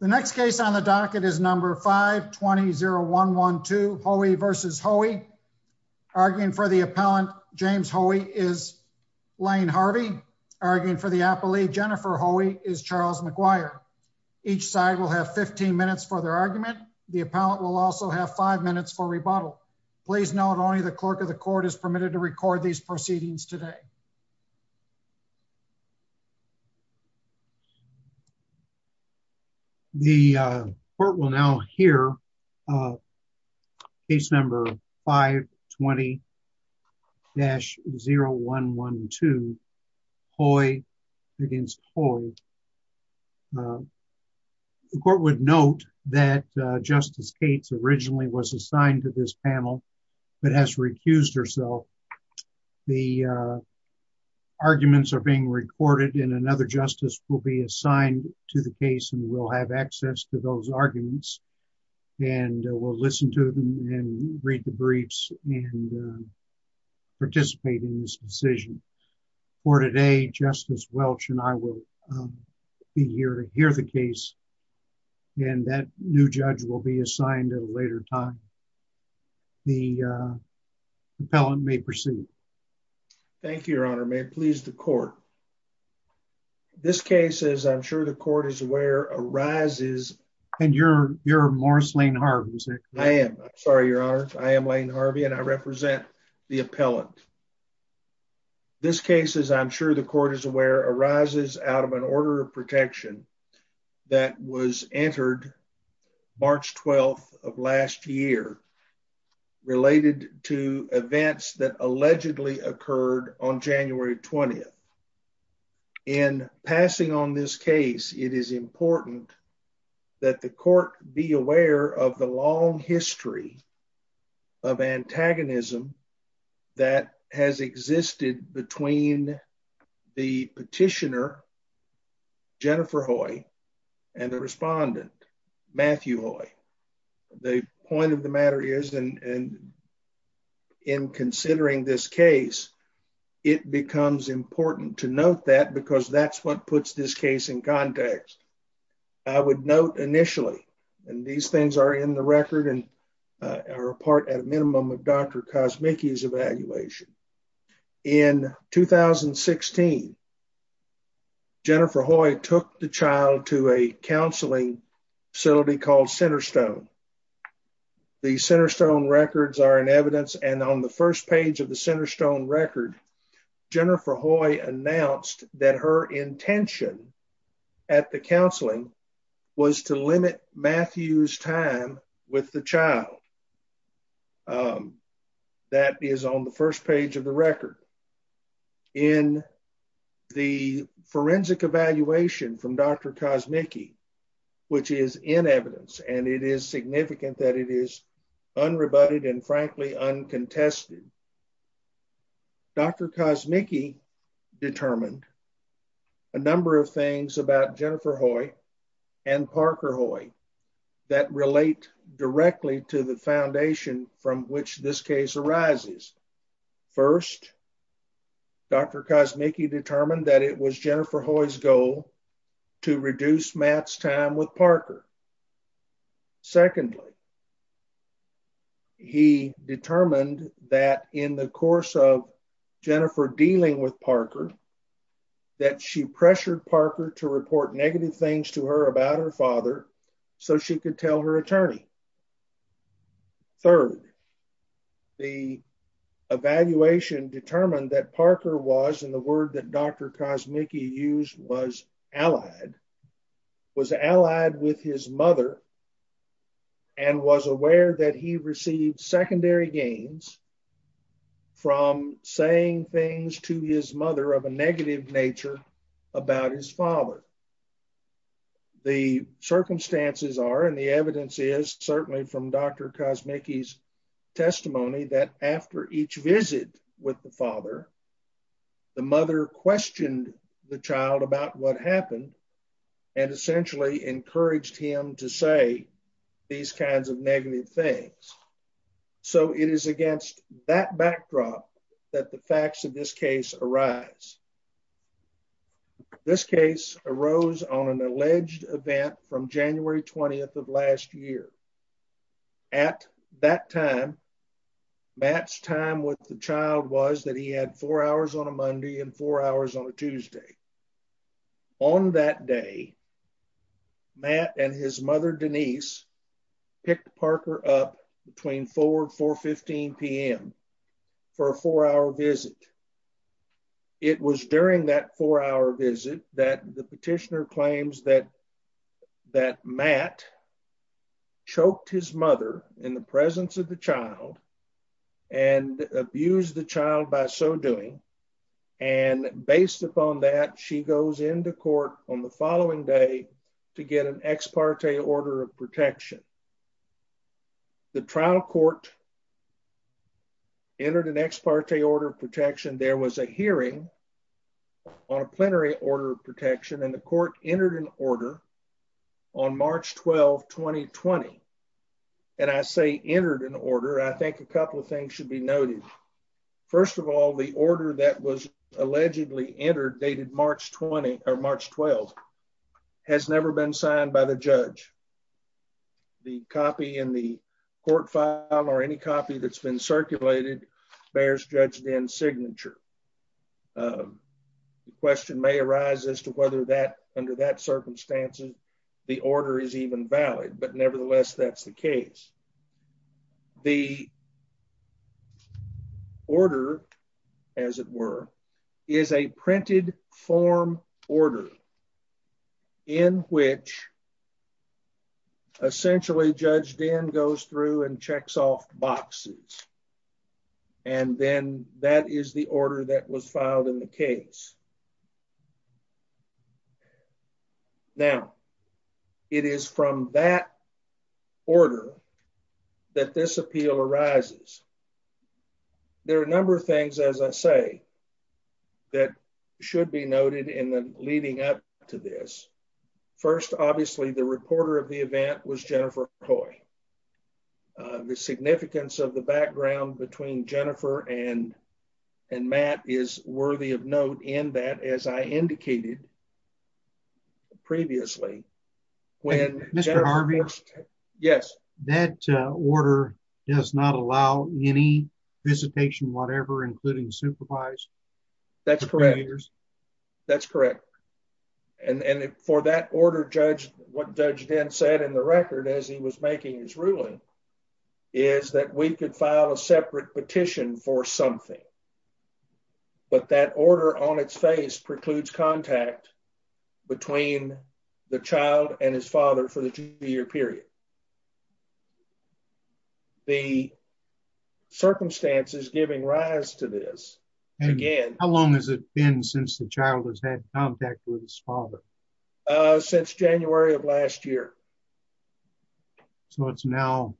The next case on the docket is number 520112 Hoey v. Hoey. Arguing for the appellant James Hoey is Lane Harvey. Arguing for the appellee Jennifer Hoey is Charles McGuire. Each side will have 15 minutes for their argument. The appellant will also have five minutes for rebuttal. Please note only the clerk of the court is permitted to record these arguments. The court will now hear case number 520-0112 Hoey v. Hoey. The court would note that Justice Cates originally was assigned to this panel but has recused herself. The arguments are being recorded and another justice will be assigned to the case and will have access to those arguments and will listen to them and read the briefs and participate in this decision. For today Justice Welch and I will be here to hear the case and that new judge will be assigned at a later time. The uh appellant may proceed. Thank you your honor. May it please the court. This case as I'm sure the court is aware arises. And you're you're Morris Lane Harvey is it? I am. I'm sorry your honor. I am Lane Harvey and I represent the appellant. This case as I'm sure the court is aware arises out of an order of protection that was entered March 12th of last year related to events that allegedly occurred on January 20th. In passing on this case it is important that the court be aware of the long history of antagonism that has existed between the petitioner Jennifer Hoy and the respondent Matthew Hoy. The point of the matter is and in considering this case it becomes important to note that because that's what puts this case in context. I would note initially and these things are in the record and are a part at a minimum of Dr. Kosmicki's evaluation. In 2016 Jennifer Hoy took the child to a counseling facility called Centerstone. The Centerstone records are in evidence and on the first page of the Centerstone record Jennifer Hoy announced that her intention at the counseling was to limit Matthew's time with the child. That is on the first page of the record in the forensic evaluation from Dr. Kosmicki which is in evidence and it is significant that it is unrebutted and frankly uncontested. Dr. Kosmicki determined a number of things about Jennifer Hoy and Parker Hoy that relate directly to the foundation from which this case arises. First, Dr. Kosmicki determined that it was Jennifer Hoy's goal to reduce Matt's time with Parker. Secondly, he determined that in the course of Jennifer dealing with Parker that she pressured Parker to report negative things to her about her father so she could tell her attorney. Third, the evaluation determined that Parker was in the word that Dr. Kosmicki used was allied was allied with his mother and was aware that he received secondary gains from saying things to his mother of a negative nature about his father. The circumstances are and the evidence is certainly from Dr. Kosmicki's testimony that after each visit with the father, the mother questioned the child about what happened and essentially encouraged him to say these kinds of negative things. So it is against that backdrop that the facts of this case arise. This case arose on an alleged event from January 20th of last year. At that time, Matt's time with the child was that he had four hours on a Monday and four hours on a Tuesday. On that day, Matt and his mother Denise picked Parker up between 4 and 4.15 p.m. for a four-hour visit. It was during that four-hour visit that the petitioner claims that Matt choked his mother in the presence of the child and abused the child by so doing. Based upon that, she goes into court on the following day to get an ex parte order of protection. The trial court entered an ex parte order of protection. There was a hearing on a plenary order of protection and the court entered an order on March 12, 2020. And I say entered an order, I think a couple of things should be noted. First of all, the order that was allegedly entered dated March 20 or March 12 has never been signed by the judge. The copy in the court file or any copy that's been circulated bears Judge Dinn's signature. The question may arise as to whether under that circumstance, the order is even valid, but nevertheless, that's the case. The order, as it were, is a printed form order in which essentially Judge Dinn goes through and checks off boxes. And then that is the order that was filed in the case. Now, it is from that order that this appeal arises. There are a number of things, as I say, that should be noted in the leading up to this. First, obviously, the reporter of the event was Jennifer and Matt is worthy of note in that, as I indicated previously. When Mr. Harvey, yes, that order does not allow any visitation, whatever, including supervised. That's correct. That's correct. And for that order, Judge, what Judge Dinn said in the record as he was making his ruling is that we could file a separate petition for something. But that order on its face precludes contact between the child and his father for the two-year period. The circumstances giving rise to this again. How long has it been since the child has had contact with his father? Since January of last year. So it's now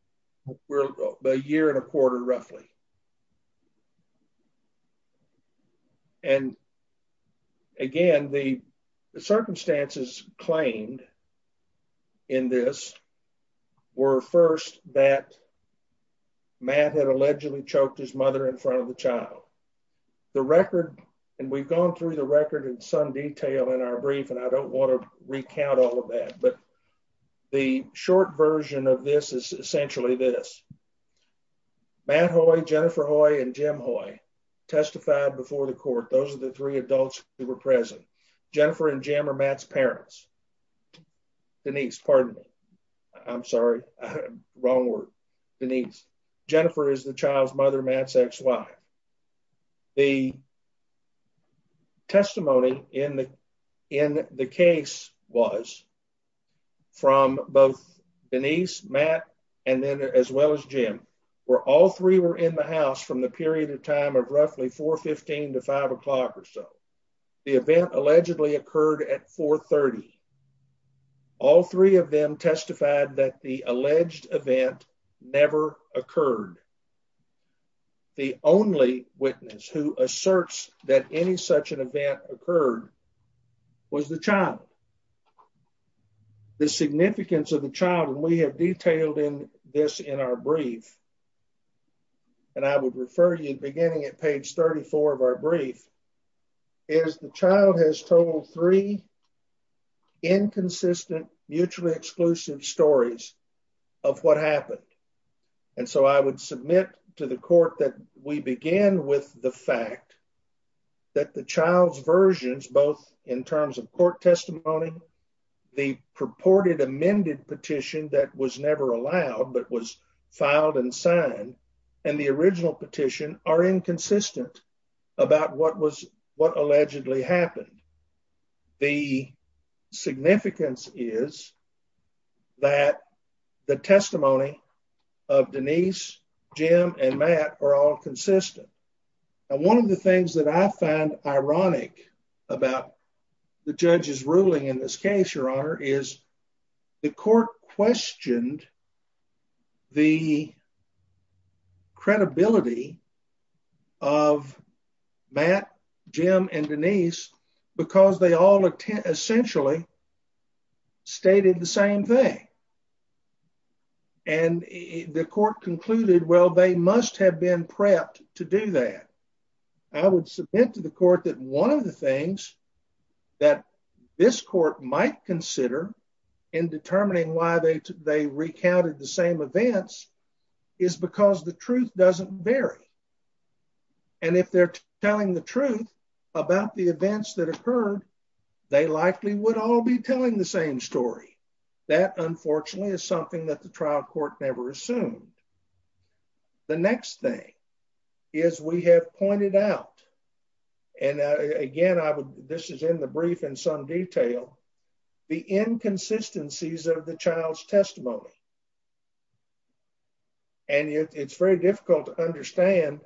a year and a quarter roughly. And again, the circumstances claimed in this were first that Matt had allegedly choked his son. Detail in our brief, and I don't want to recount all of that, but the short version of this is essentially this. Matt Hoy, Jennifer Hoy and Jim Hoy testified before the court. Those are the three adults who were present. Jennifer and Jim are Matt's parents. Denise, pardon me. I'm Testimony in the case was from both Denise, Matt, and then as well as Jim, where all three were in the house from the period of time of roughly 4.15 to 5 o'clock or so. The event allegedly occurred at 4.30. All three of them testified that the alleged event never occurred. The only witness who asserts that any such an event occurred was the child. The significance of the child, and we have detailed in this in our brief, and I would refer you beginning at page 34 of our brief, is the child has told three inconsistent, mutually exclusive stories of what happened. And so I would submit to the court that we begin with the fact that the child's versions, both in terms of court testimony, the purported amended petition that was never allowed but was filed and signed, and the original petition are inconsistent about what allegedly happened. The significance is that the testimony of Denise, Jim and Matt are all consistent. And one of the things that I find ironic about the judge's ruling in this case, Your Honor, is the court questioned the credibility of Matt, Jim and Denise, because they all essentially stated the same thing. And the court concluded, well, they must have been prepped to do that. I would submit to the court that one of the things that this court might consider in determining why they recounted the same events is because the truth doesn't vary. And if they're telling the truth about the events that occurred, they likely would all be telling the same story. That unfortunately is something that the trial court never assumed. The next thing is we have pointed out, and again, this is in the brief in some detail, the inconsistencies of the child's testimony. And it's very difficult to understand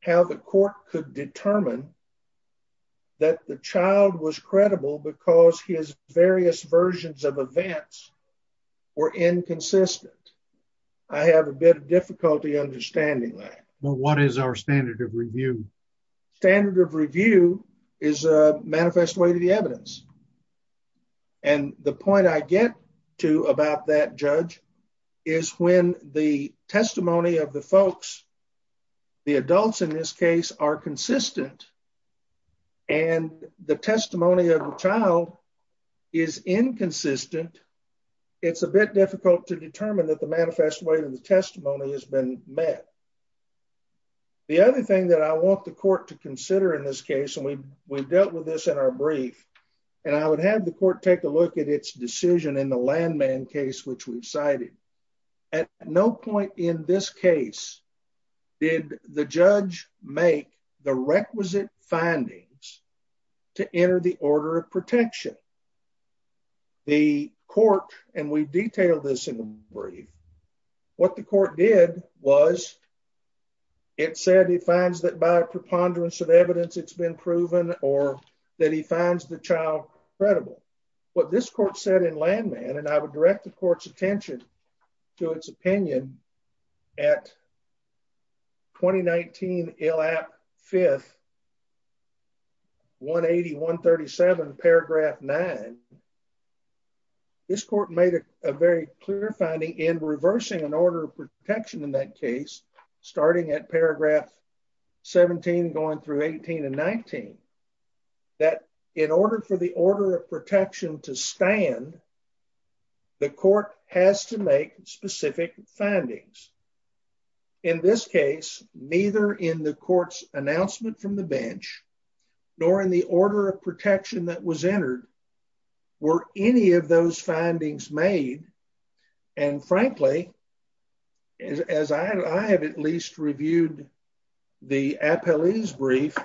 how the court could determine that the child was credible because his various versions of events were inconsistent. I have a bit of difficulty understanding that. Well, what is our standard of review? Standard of review is a manifest way to the evidence. And the point I get to about that, Judge, is when the testimony of the folks, the adults in this case are consistent, and the testimony of the child is inconsistent, it's a bit difficult to determine that the manifest way to the testimony has been met. The other thing that I want the court to consider in this case, and we've dealt with this in our brief, and I would have the court take a look at its decision in the landman case, which we've cited. At no point in this case did the judge make the requisite findings to enter the order of protection. The court, and we detailed this in the brief, what the court did was it said he finds that by preponderance of evidence it's been proven or that he finds the child credible. What this court said in landman, and I would direct the court's attention to its opinion at 2019 ILAP 5th, 180, 137, paragraph 9. This court made a very clear finding in reversing an order of protection in that case, starting at paragraph 17, going through 18 and 19, that in order for the in this case, neither in the court's announcement from the bench, nor in the order of protection that was entered, were any of those findings made, and frankly, as I have at least reviewed the appellee's brief,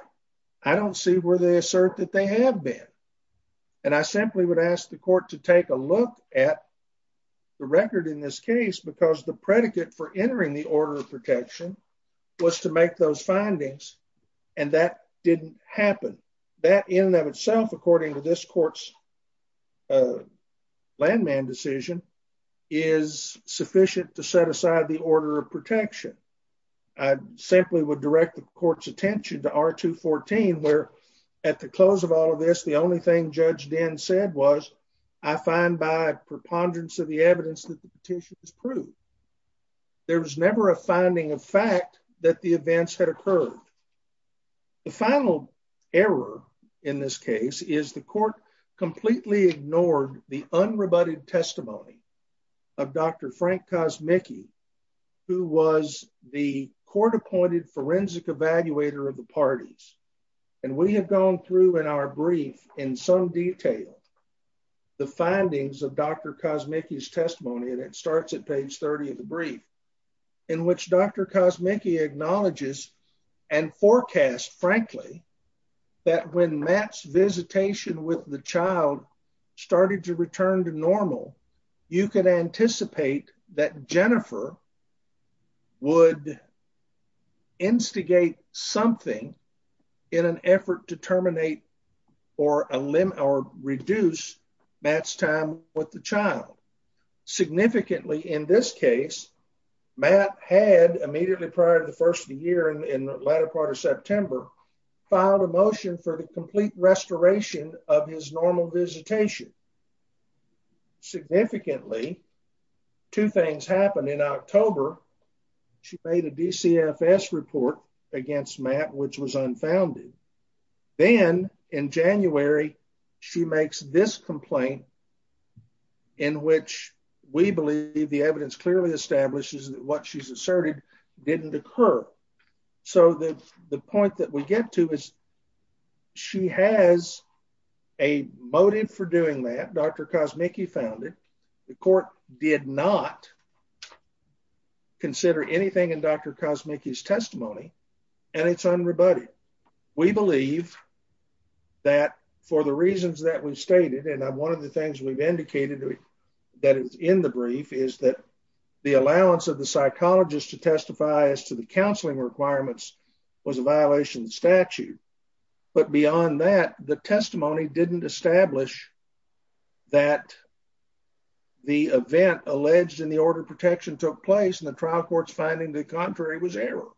I don't see where they assert that they have been, and I simply would ask the court to take a look at the record in this case, because the predicate for entering the order of protection was to make those findings, and that didn't happen. That in and of itself, according to this court's landman decision, is sufficient to set aside the order of protection. I simply would direct the court's attention to R214, where at the close of all of this, the only thing Judge Dinn said was, I find by preponderance of the evidence that the petition has proved. There was never a finding of fact that the events had occurred. The final error in this case is the court completely ignored the unrebutted testimony of Dr. Frank Kosmicki, who was the court-appointed forensic evaluator of the parties, and we have gone through in our brief in some detail the findings of Dr. Kosmicki's testimony, and it starts at page 30 of the brief, in which Dr. Kosmicki acknowledges and forecasts, frankly, that when Matt's visitation with the child started to return to normal, you could anticipate that Jennifer would instigate something in an effort to terminate or reduce Matt's time with the child. Significantly, in this case, Matt had, immediately prior to the first of the year, in the latter part of September, filed a motion for the complete restoration of his normal visitation. Significantly, two things happened. In October, she made a DCFS report against Matt, which was unfounded. Then, in January, she makes this complaint, in which we believe the evidence clearly establishes that what she's asserted didn't occur. So, the point that we get to is she has a motive for doing that. Dr. Kosmicki found it. The court did not consider anything in Dr. Kosmicki's testimony, and it's unrebutted. We believe that for the reasons that we stated, and one of the things we've indicated that is in the brief is that the allowance of the psychologist to testify as to the counseling requirements was a violation of the statute. But beyond that, the testimony didn't establish that the event alleged in the order of protection took place, and the trial court's finding the contrary was error.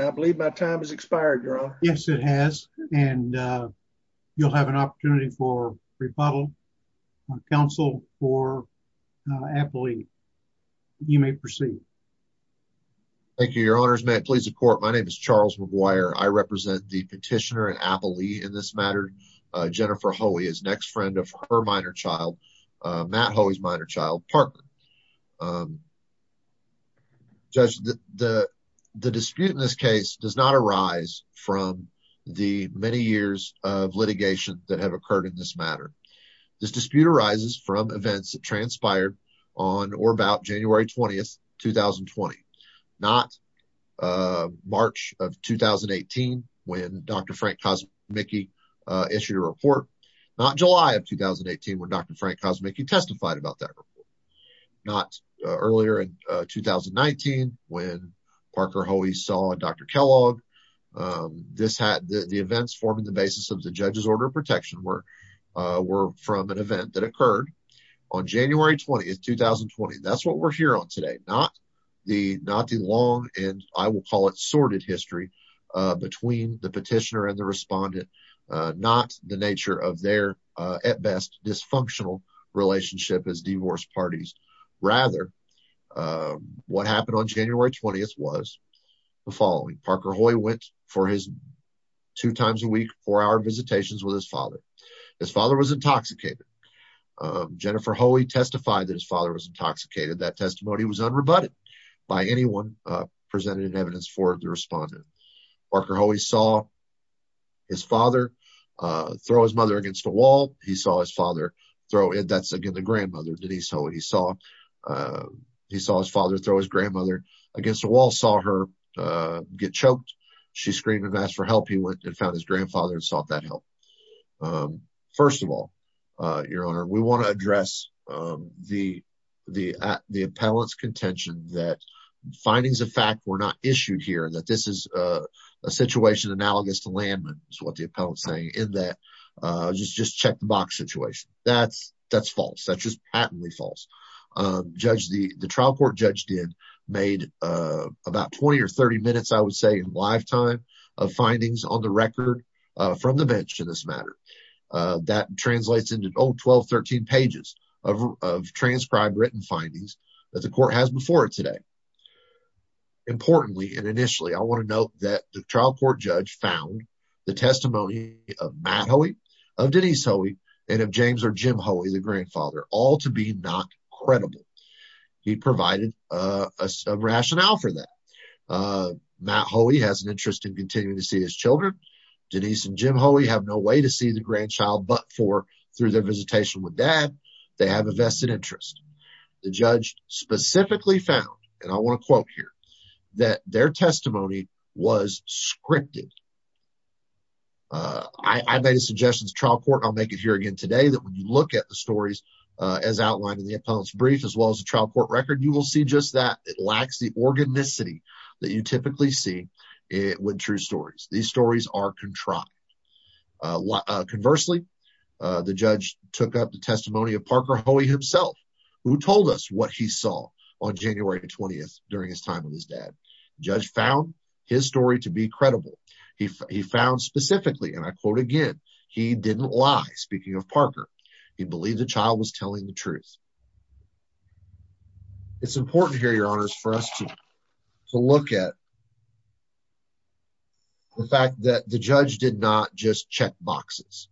I believe my time has expired, Your Honor. Yes, it has, and you'll have an opportunity for rebuttal on counsel for Appley. You may proceed. Thank you, Your Honors. May it please the court, my name is Charles McGuire. I represent the petitioner in Appley in this matter, Jennifer Hoey, as next friend of her minor child, Matt Hoey's minor child, Parker. Judge, the dispute in this case does not arise from the many years of litigation that have occurred in this matter. This dispute arises from events that transpired on or about January 20th, 2020, not March of 2018 when Dr. Frank Kosmicki issued a report, not July of 2018 when Dr. Frank Kosmicki testified about that. Not earlier in 2019 when Parker Hoey saw Dr. Kellogg. The events forming the basis of the judge's order of protection were from an event that occurred on January 20th, 2020. That's what we're here on today, not the long and I will call it sorted history between the petitioner and the parties. Rather, what happened on January 20th was the following. Parker Hoey went for his two times a week, four hour visitations with his father. His father was intoxicated. Jennifer Hoey testified that his father was intoxicated. That testimony was unrebutted by anyone presented in evidence for the respondent. Parker Hoey saw his father throw his mother against the wall. He saw his father throw, that's again the grandmother Denise Hoey. He saw his father throw his grandmother against the wall, saw her get choked. She screamed and asked for help. He went and found his grandfather and sought that help. First of all, your honor, we want to address the appellant's contention that findings of fact were not issued here, that this is a situation analogous to landmines, what the appellant's saying in that, just check the box situation. That's false. That's just patently false. The trial court judge did, made about 20 or 30 minutes, I would say, lifetime of findings on the record from the bench in this matter. That translates into 12, 13 pages of transcribed written findings that the court has before it today. Importantly, and initially, I want to note that the trial court judge found the testimony of Matt Hoey, of Denise Hoey, and of James or Jim Hoey, the grandfather, all to be not credible. He provided a sub-rationale for that. Matt Hoey has an interest in continuing to see his children. Denise and Jim Hoey have no way to see the grandchild but for, through their visitation with have a vested interest. The judge specifically found, and I want to quote here, that their testimony was scripted. I made a suggestion to the trial court, I'll make it here again today, that when you look at the stories as outlined in the appellant's brief, as well as the trial court record, you will see just that it lacks the organicity that you typically see with true stories. These stories are contrived. Conversely, the judge took up the testimony of Parker Hoey himself, who told us what he saw on January 20th during his time with his dad. The judge found his story to be credible. He found specifically, and I quote again, he didn't lie, speaking of Parker. He believed the child was telling the truth. It's important here, your honors, for us to look at the fact that the judge did not just check boxes.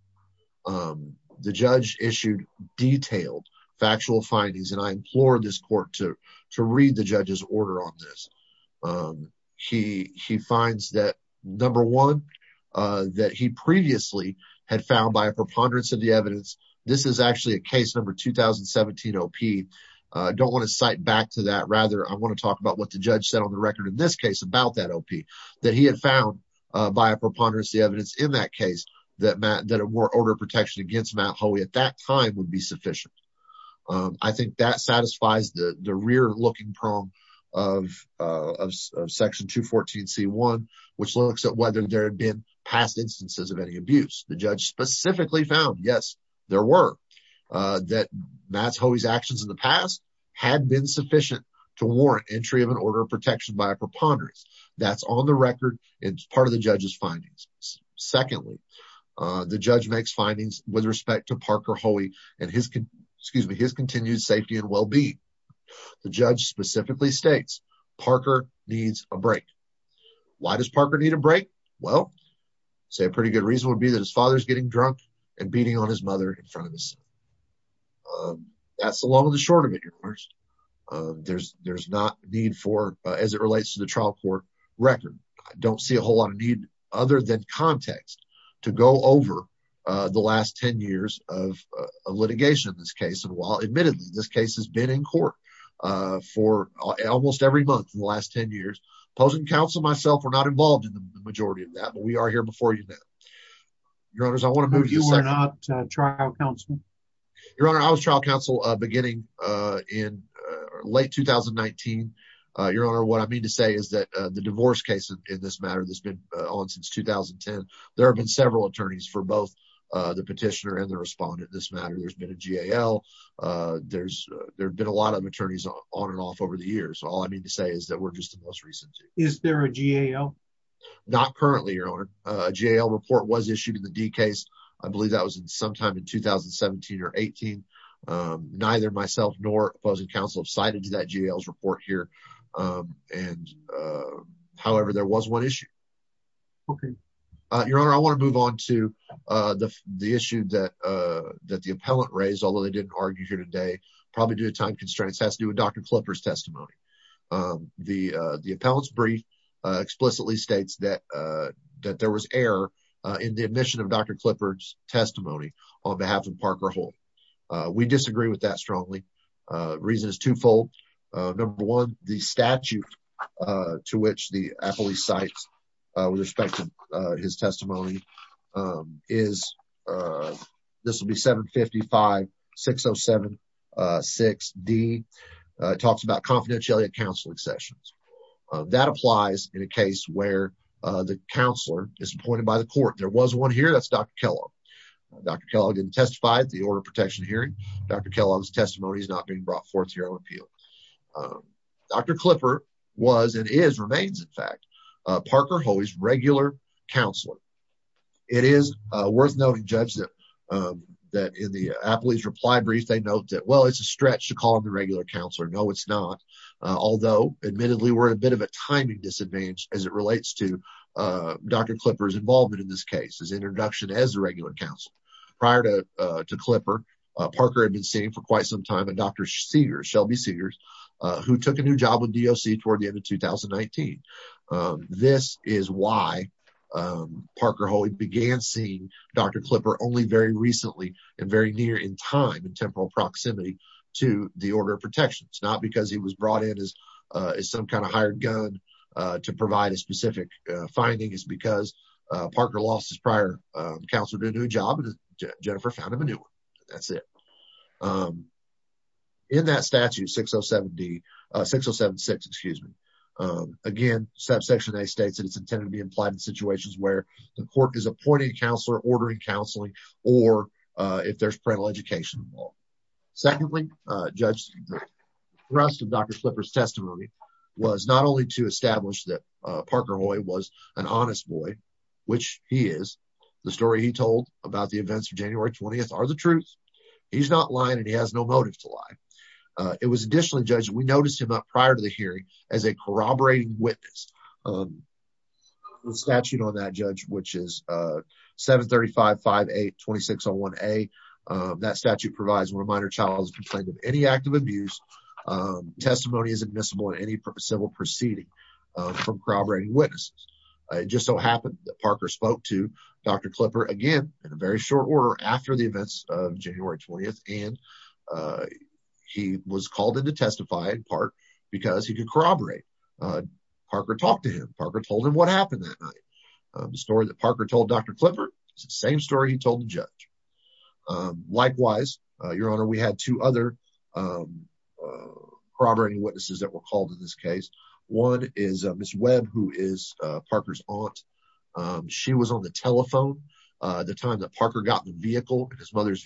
The judge issued detailed factual findings, and I implore this court to read the judge's order on this. He finds that, number one, that he previously had found by a preponderance of the evidence, this is actually a case number 2017-OP. I don't want to cite back to that. Rather, I want to talk about what the judge said on the record in this case about that OP, that he had found by a preponderance of the evidence in that case, that an order of protection against Matt Hoey at that time would be sufficient. I think that satisfies the rear-looking prong of section 214c1, which looks at whether there were, that Matt Hoey's actions in the past had been sufficient to warrant entry of an order of protection by a preponderance. That's on the record. It's part of the judge's findings. Secondly, the judge makes findings with respect to Parker Hoey and his, excuse me, his continued safety and well-being. The judge specifically states Parker needs a break. Why does Parker need a break? Well, say a pretty good reason would be that his father's getting drunk and having an affair in front of his son. That's the long and the short of it, Your Honors. There's not need for, as it relates to the trial court record, I don't see a whole lot of need other than context to go over the last 10 years of litigation in this case. And while admittedly this case has been in court for almost every month in the last 10 years, opposing counsel and myself were not involved in the majority of that, but we are here before you now. Your Honors, you were not trial counsel? Your Honor, I was trial counsel beginning in late 2019. Your Honor, what I mean to say is that the divorce case in this matter that's been on since 2010, there have been several attorneys for both the petitioner and the respondent in this matter. There's been a GAL. There's been a lot of attorneys on and off over the years. All I mean to say is that we're just the most recent. Is there a GAL? Not currently, Your Honor. A GAL report was issued in the D case. I believe that was sometime in 2017 or 18. Neither myself nor opposing counsel have cited to that GAL's report here. However, there was one issue. Your Honor, I want to move on to the issue that the appellant raised, although they didn't argue here today, probably due to time constraints, has to do with Dr. Klipper's testimony. The appellant's brief explicitly states that there was error in the admission of Dr. Klipper's testimony on behalf of Parker Holt. We disagree with that strongly. Reason is twofold. Number one, the statute to which the appellee cites with respect to his testimony, this will be 755-607-6D, talks about confidentiality of counseling sessions. That applies in a case where the counselor is appointed by the court. There was one here. That's Dr. Kellogg. Dr. Kellogg didn't testify at the order of protection hearing. Dr. Kellogg's testimony is not being brought forth here on appeal. Dr. Klipper was, and is, remains in fact, Parker Holt's regular counselor. It is worth noting, Judge, that in the appellee's reply brief, they note that, well, it's a stretch to call him a counselor. Although admittedly, we're in a bit of a timing disadvantage as it relates to Dr. Klipper's involvement in this case, his introduction as a regular counselor. Prior to Klipper, Parker had been seeing for quite some time a Dr. Sears, Shelby Sears, who took a new job with DOC toward the end of 2019. This is why Parker Holt began seeing Dr. Klipper only very recently and near in time and temporal proximity to the order of protection. It's not because he was brought in as some kind of hired gun to provide a specific finding. It's because Parker lost his prior counselor to a new job and Jennifer found him a new one. That's it. In that statute 607D, 6076, excuse me. Again, subsection A states that it's intended to be implied in situations where the court is appointing a counselor, ordering counseling, or if there's parental education. Secondly, Judge, the rest of Dr. Klipper's testimony was not only to establish that Parker Hoy was an honest boy, which he is. The story he told about the events of January 20th are the truth. He's not lying and he has no motive to lie. It was additionally, Judge, we noticed him up prior to the hearing as a corroborating witness. The statute on that, Judge, which is 735-58-2601A, that statute provides when a minor child has complained of any act of abuse, testimony is admissible in any civil proceeding from corroborating witnesses. It just so happened that Parker spoke to Dr. Klipper again in a very short order after the park because he could corroborate. Parker talked to him. Parker told him what happened that night. The story that Parker told Dr. Klipper is the same story he told the judge. Likewise, Your Honor, we had two other corroborating witnesses that were called in this case. One is Ms. Webb, who is Parker's aunt. She was on the telephone the time that Parker got in the vehicle, his mother's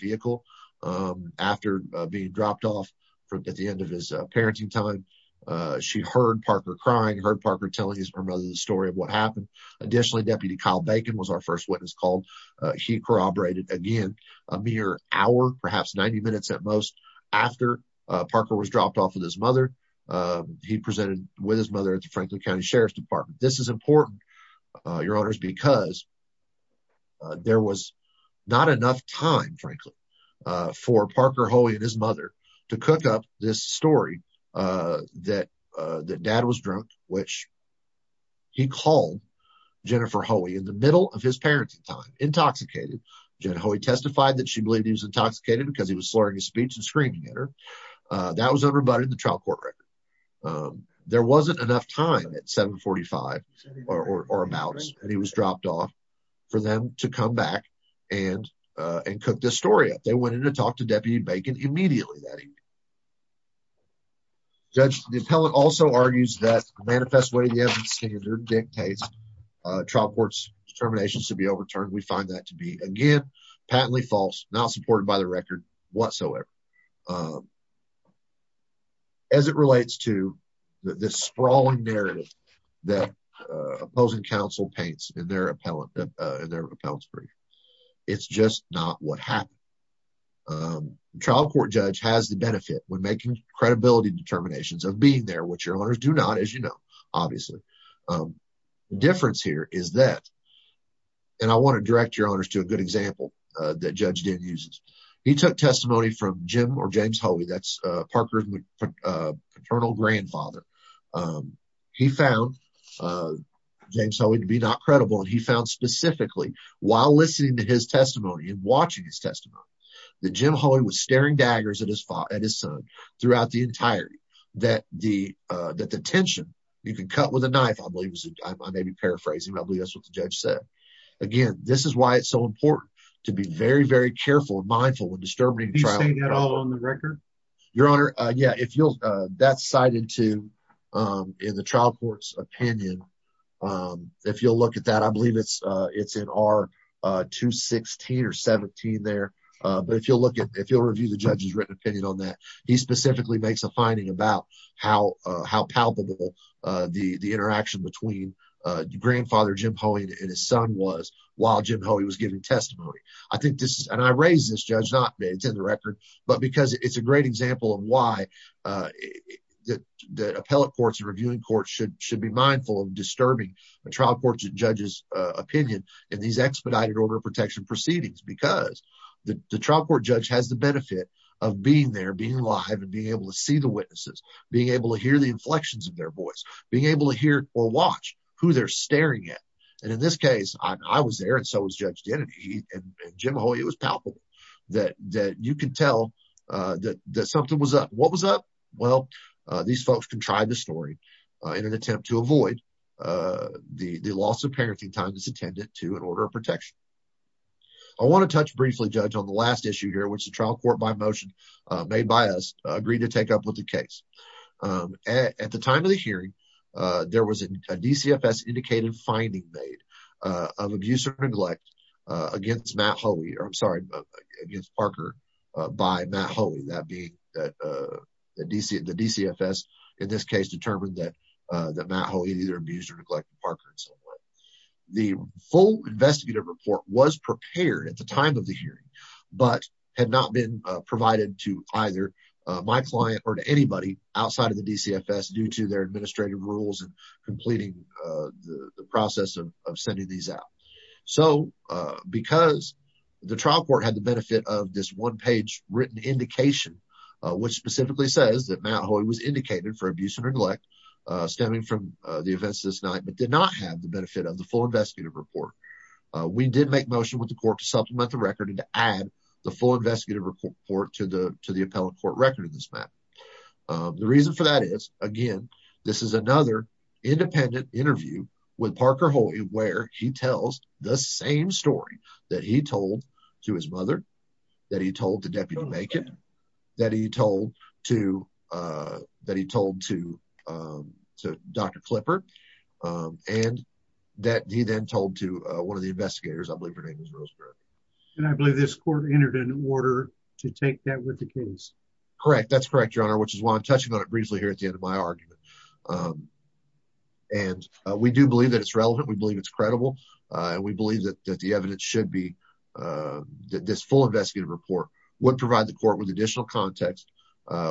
at the end of his parenting time. She heard Parker crying, heard Parker telling his mother the story of what happened. Additionally, Deputy Kyle Bacon was our first witness called. He corroborated again a mere hour, perhaps 90 minutes at most after Parker was dropped off with his mother. He presented with his mother at the Franklin County Sheriff's Department. This is important, Your Honors, because there was not enough time, frankly, for Parker Hoey and his mother to cook up this story that dad was drunk, which he called Jennifer Hoey in the middle of his parenting time, intoxicated. Jennifer Hoey testified that she believed he was intoxicated because he was slurring his speech and screaming at her. That was unrebutted in the trial court record. There wasn't enough time at 745 or about, and he was dropped off for them to come back and cook this story up. They went in to talk to Deputy Bacon immediately that evening. Judge, the appellant also argues that the manifest way the evidence standard dictates trial court's determinations to be overturned, we find that to be, again, patently false, not supported by the record whatsoever. As it relates to the sprawling narrative that opposing counsel paints in their appellate, in their appellate brief, it's just not what happened. The trial court judge has the benefit when making credibility determinations of being there, which Your Honors do not, as you know, obviously. The difference here is that, and I want to direct Your Honors to a good example that Judge Dinn uses. He took testimony from Jim or James Hoey, that's Parker's paternal grandfather. He found James Hoey to be not credible, and he found specifically while listening to his testimony and watching his testimony that Jim Hoey was staring daggers at his son throughout the entirety, that the tension you can cut with a knife, I may be paraphrasing, but I believe that's what the judge said. Again, this is why it's so important to be very, very careful and mindful when disturbing the trial. Is he saying that all on the record? Your Honor, yeah, that's cited in the trial court's opinion. If you'll look at that, I believe it's in R216 or R217 there, but if you'll review the judge's written opinion on that, he specifically makes a finding about how palpable the interaction between grandfather Jim Hoey and his son was while Jim Hoey was giving testimony. I think this, and I raise this, Judge Knott, it's in the record, but because it's a great example of why the appellate courts and reviewing courts should be mindful of disturbing the trial court judge's opinion in these expedited order of protection proceedings, because the trial court judge has benefit of being there, being alive, and being able to see the witnesses, being able to hear the inflections of their voice, being able to hear or watch who they're staring at, and in this case, I was there and so was Judge Dennedy, and Jim Hoey, it was palpable that you could tell that something was up. What was up? Well, these folks contrived the story in an attempt to avoid the loss of parenting time that's attendant to an order of protection. I want to touch briefly, Judge, on the last issue here, which the trial court, by motion made by us, agreed to take up with the case. At the time of the hearing, there was a DCFS indicated finding made of abuse or neglect against Matt Hoey, or I'm sorry, against Parker by Matt Hoey, that being the DCFS in this case determined that Matt Hoey either abused or was prepared at the time of the hearing, but had not been provided to either my client or to anybody outside of the DCFS due to their administrative rules and completing the process of sending these out. So, because the trial court had the benefit of this one-page written indication, which specifically says that Matt Hoey was indicated for abuse or neglect stemming from the events this night, but did not have the benefit of the full investigative report, we did make motion with the court to supplement the record and to add the full investigative report to the appellate court record of this matter. The reason for that is, again, this is another independent interview with Parker Hoey where he tells the same story that he told to his mother, that he told to Deputy Macon, that he told to to Dr. Klipper, and that he then told to one of the investigators, I believe her name is Rosemary. And I believe this court entered an order to take that with the case. Correct. That's correct, your honor, which is why I'm touching on it briefly here at the end of my argument. And we do believe that it's relevant. We believe it's credible. We believe that the evidence should be that this full investigative report would provide the court with additional context,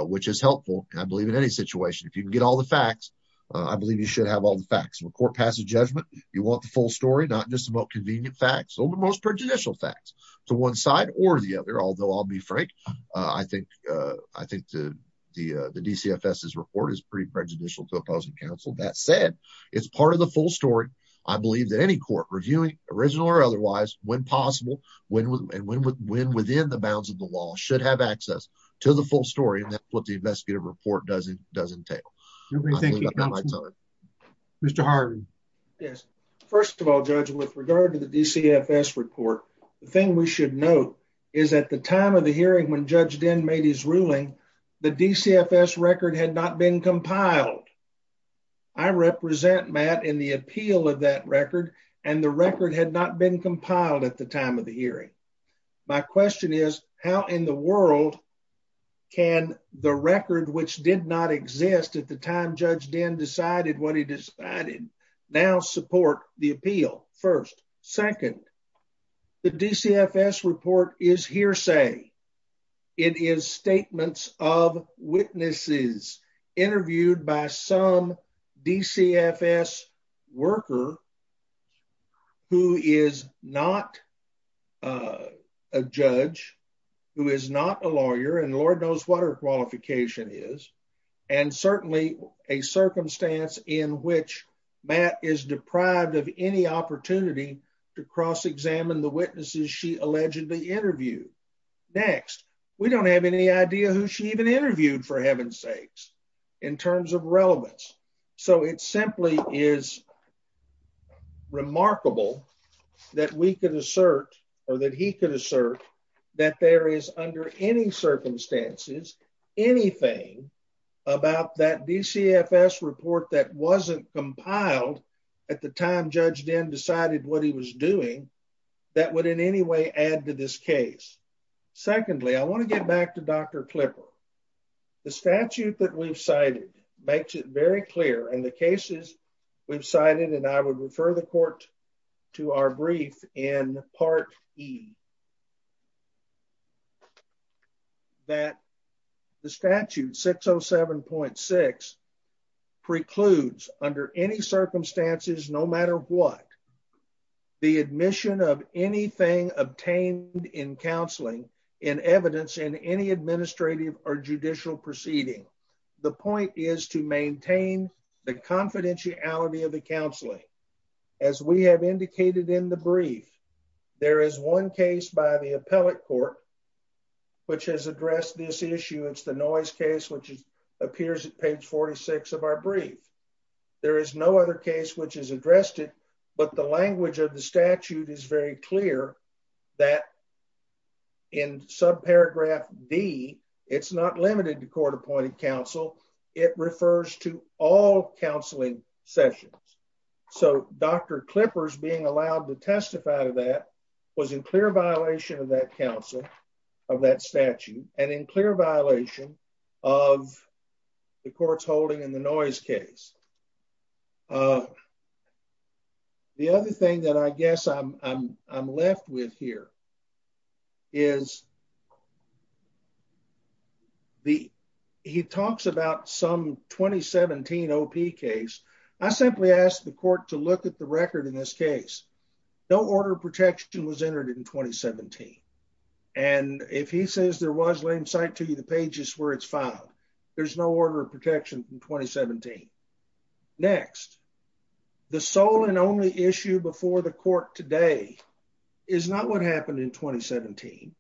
which is helpful, I believe, in any situation. If you can get all the facts, I believe you should have all the facts. When a court passes judgment, you want the full story, not just about convenient facts, but most prejudicial facts to one side or the other. Although I'll be frank, I think the DCFS's report is pretty prejudicial to opposing counsel. That said, it's part of the full story. I believe that any court reviewing, original or otherwise, when possible, when within the bounds of the law, should have access to the full story of what the investigative report does entail. Mr. Harden. Yes. First of all, Judge, with regard to the DCFS report, the thing we should note is at the time of the hearing when Judge Dinn made his ruling, the DCFS record had not been compiled. I represent Matt in the appeal of that record, and the record had not been compiled at the time of the hearing. My question is, how in the world can the record, which did not exist at the time Judge Dinn decided what he decided, now support the appeal? First. Second, the DCFS report is hearsay. It is statements of witnesses interviewed by some DCFS worker who is not a judge, who is not a lawyer, and Lord knows what her qualification is, and certainly a circumstance in which Matt is deprived of any opportunity to cross-examine the witnesses she allegedly interviewed. Next, we don't have any idea who she even interviewed, for heaven's sakes, in terms of relevance. So it simply is remarkable that we could assert, or that he could assert, that there is under any circumstances anything about that DCFS report that wasn't compiled at the time Judge Dinn decided what he was doing that would in any way add to this case. Secondly, I want to get back to Dr. Klipper. The statute that we've cited makes it very clear, and the cases we've cited, and I would refer the court to our brief in Part E, that the statute 607.6 precludes under any circumstances, no matter what, the admission of anything obtained in counseling in evidence in any administrative or judicial proceeding. The point is to maintain the confidentiality of the counseling. As we have indicated in the brief, there is one case by the appellate court which has addressed this issue. It's the noise case which appears at page 46 of our brief. There is no other case which has addressed it, but the language of the statute is very clear that in subparagraph D, it's not limited to court-appointed counsel. It refers to all counseling sessions. So Dr. Klipper's allowed to testify to that was in clear violation of that counsel, of that statute, and in clear violation of the court's holding in the noise case. The other thing that I guess I'm left with here is he talks about some 2017 OP case. I simply asked the court to look at the record in this case. No order of protection was entered in 2017, and if he says there was, let him cite to you the pages where it's filed. There's no order of protection from 2017. Next, the sole and only issue before the court today is not what happened in 2017.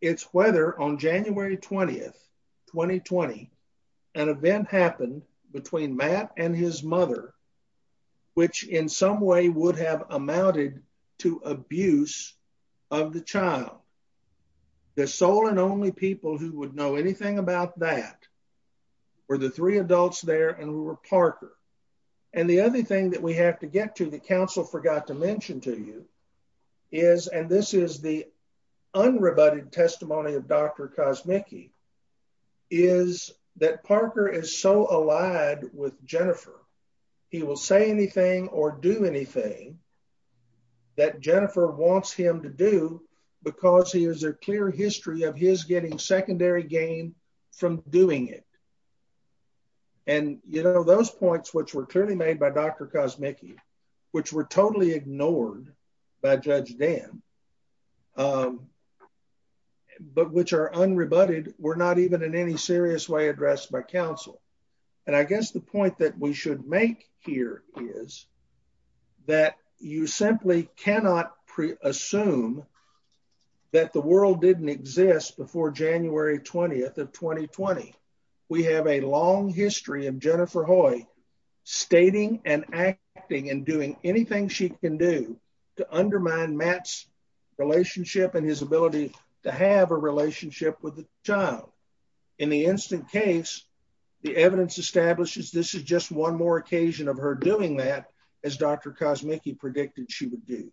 It's whether on January 20th, 2020, an event happened between Matt and his mother, which in some way would have amounted to abuse of the child. The sole and only people who would know anything about that were the three adults there and Parker. And the other thing that we have to get to that counsel forgot to mention to you is, and this is the unrebutted testimony of Dr. Kosmicki, is that Parker is so allied with Jennifer. He will say anything or do anything that Jennifer wants him to do because he has a clear history of his getting secondary gain from doing it. And, you know, those points, which were clearly made by Dr. Kosmicki, which were totally ignored by Judge Dan, but which are unrebutted, were not even in any serious way addressed by counsel. And I guess the point that we should make here is that you simply cannot pre-assume that the world didn't exist before January 20th of 2020. We have a long history of Jennifer Hoy stating and acting and doing anything she can do to undermine Matt's relationship and his ability to have a relationship with the child. In the instant case, the evidence establishes this is just one more occasion of her doing that, as Dr. Kosmicki predicted she would do.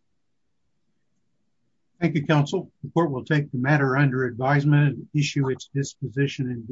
Thank you, counsel. The court will take the matter under advisement and issue its disposition.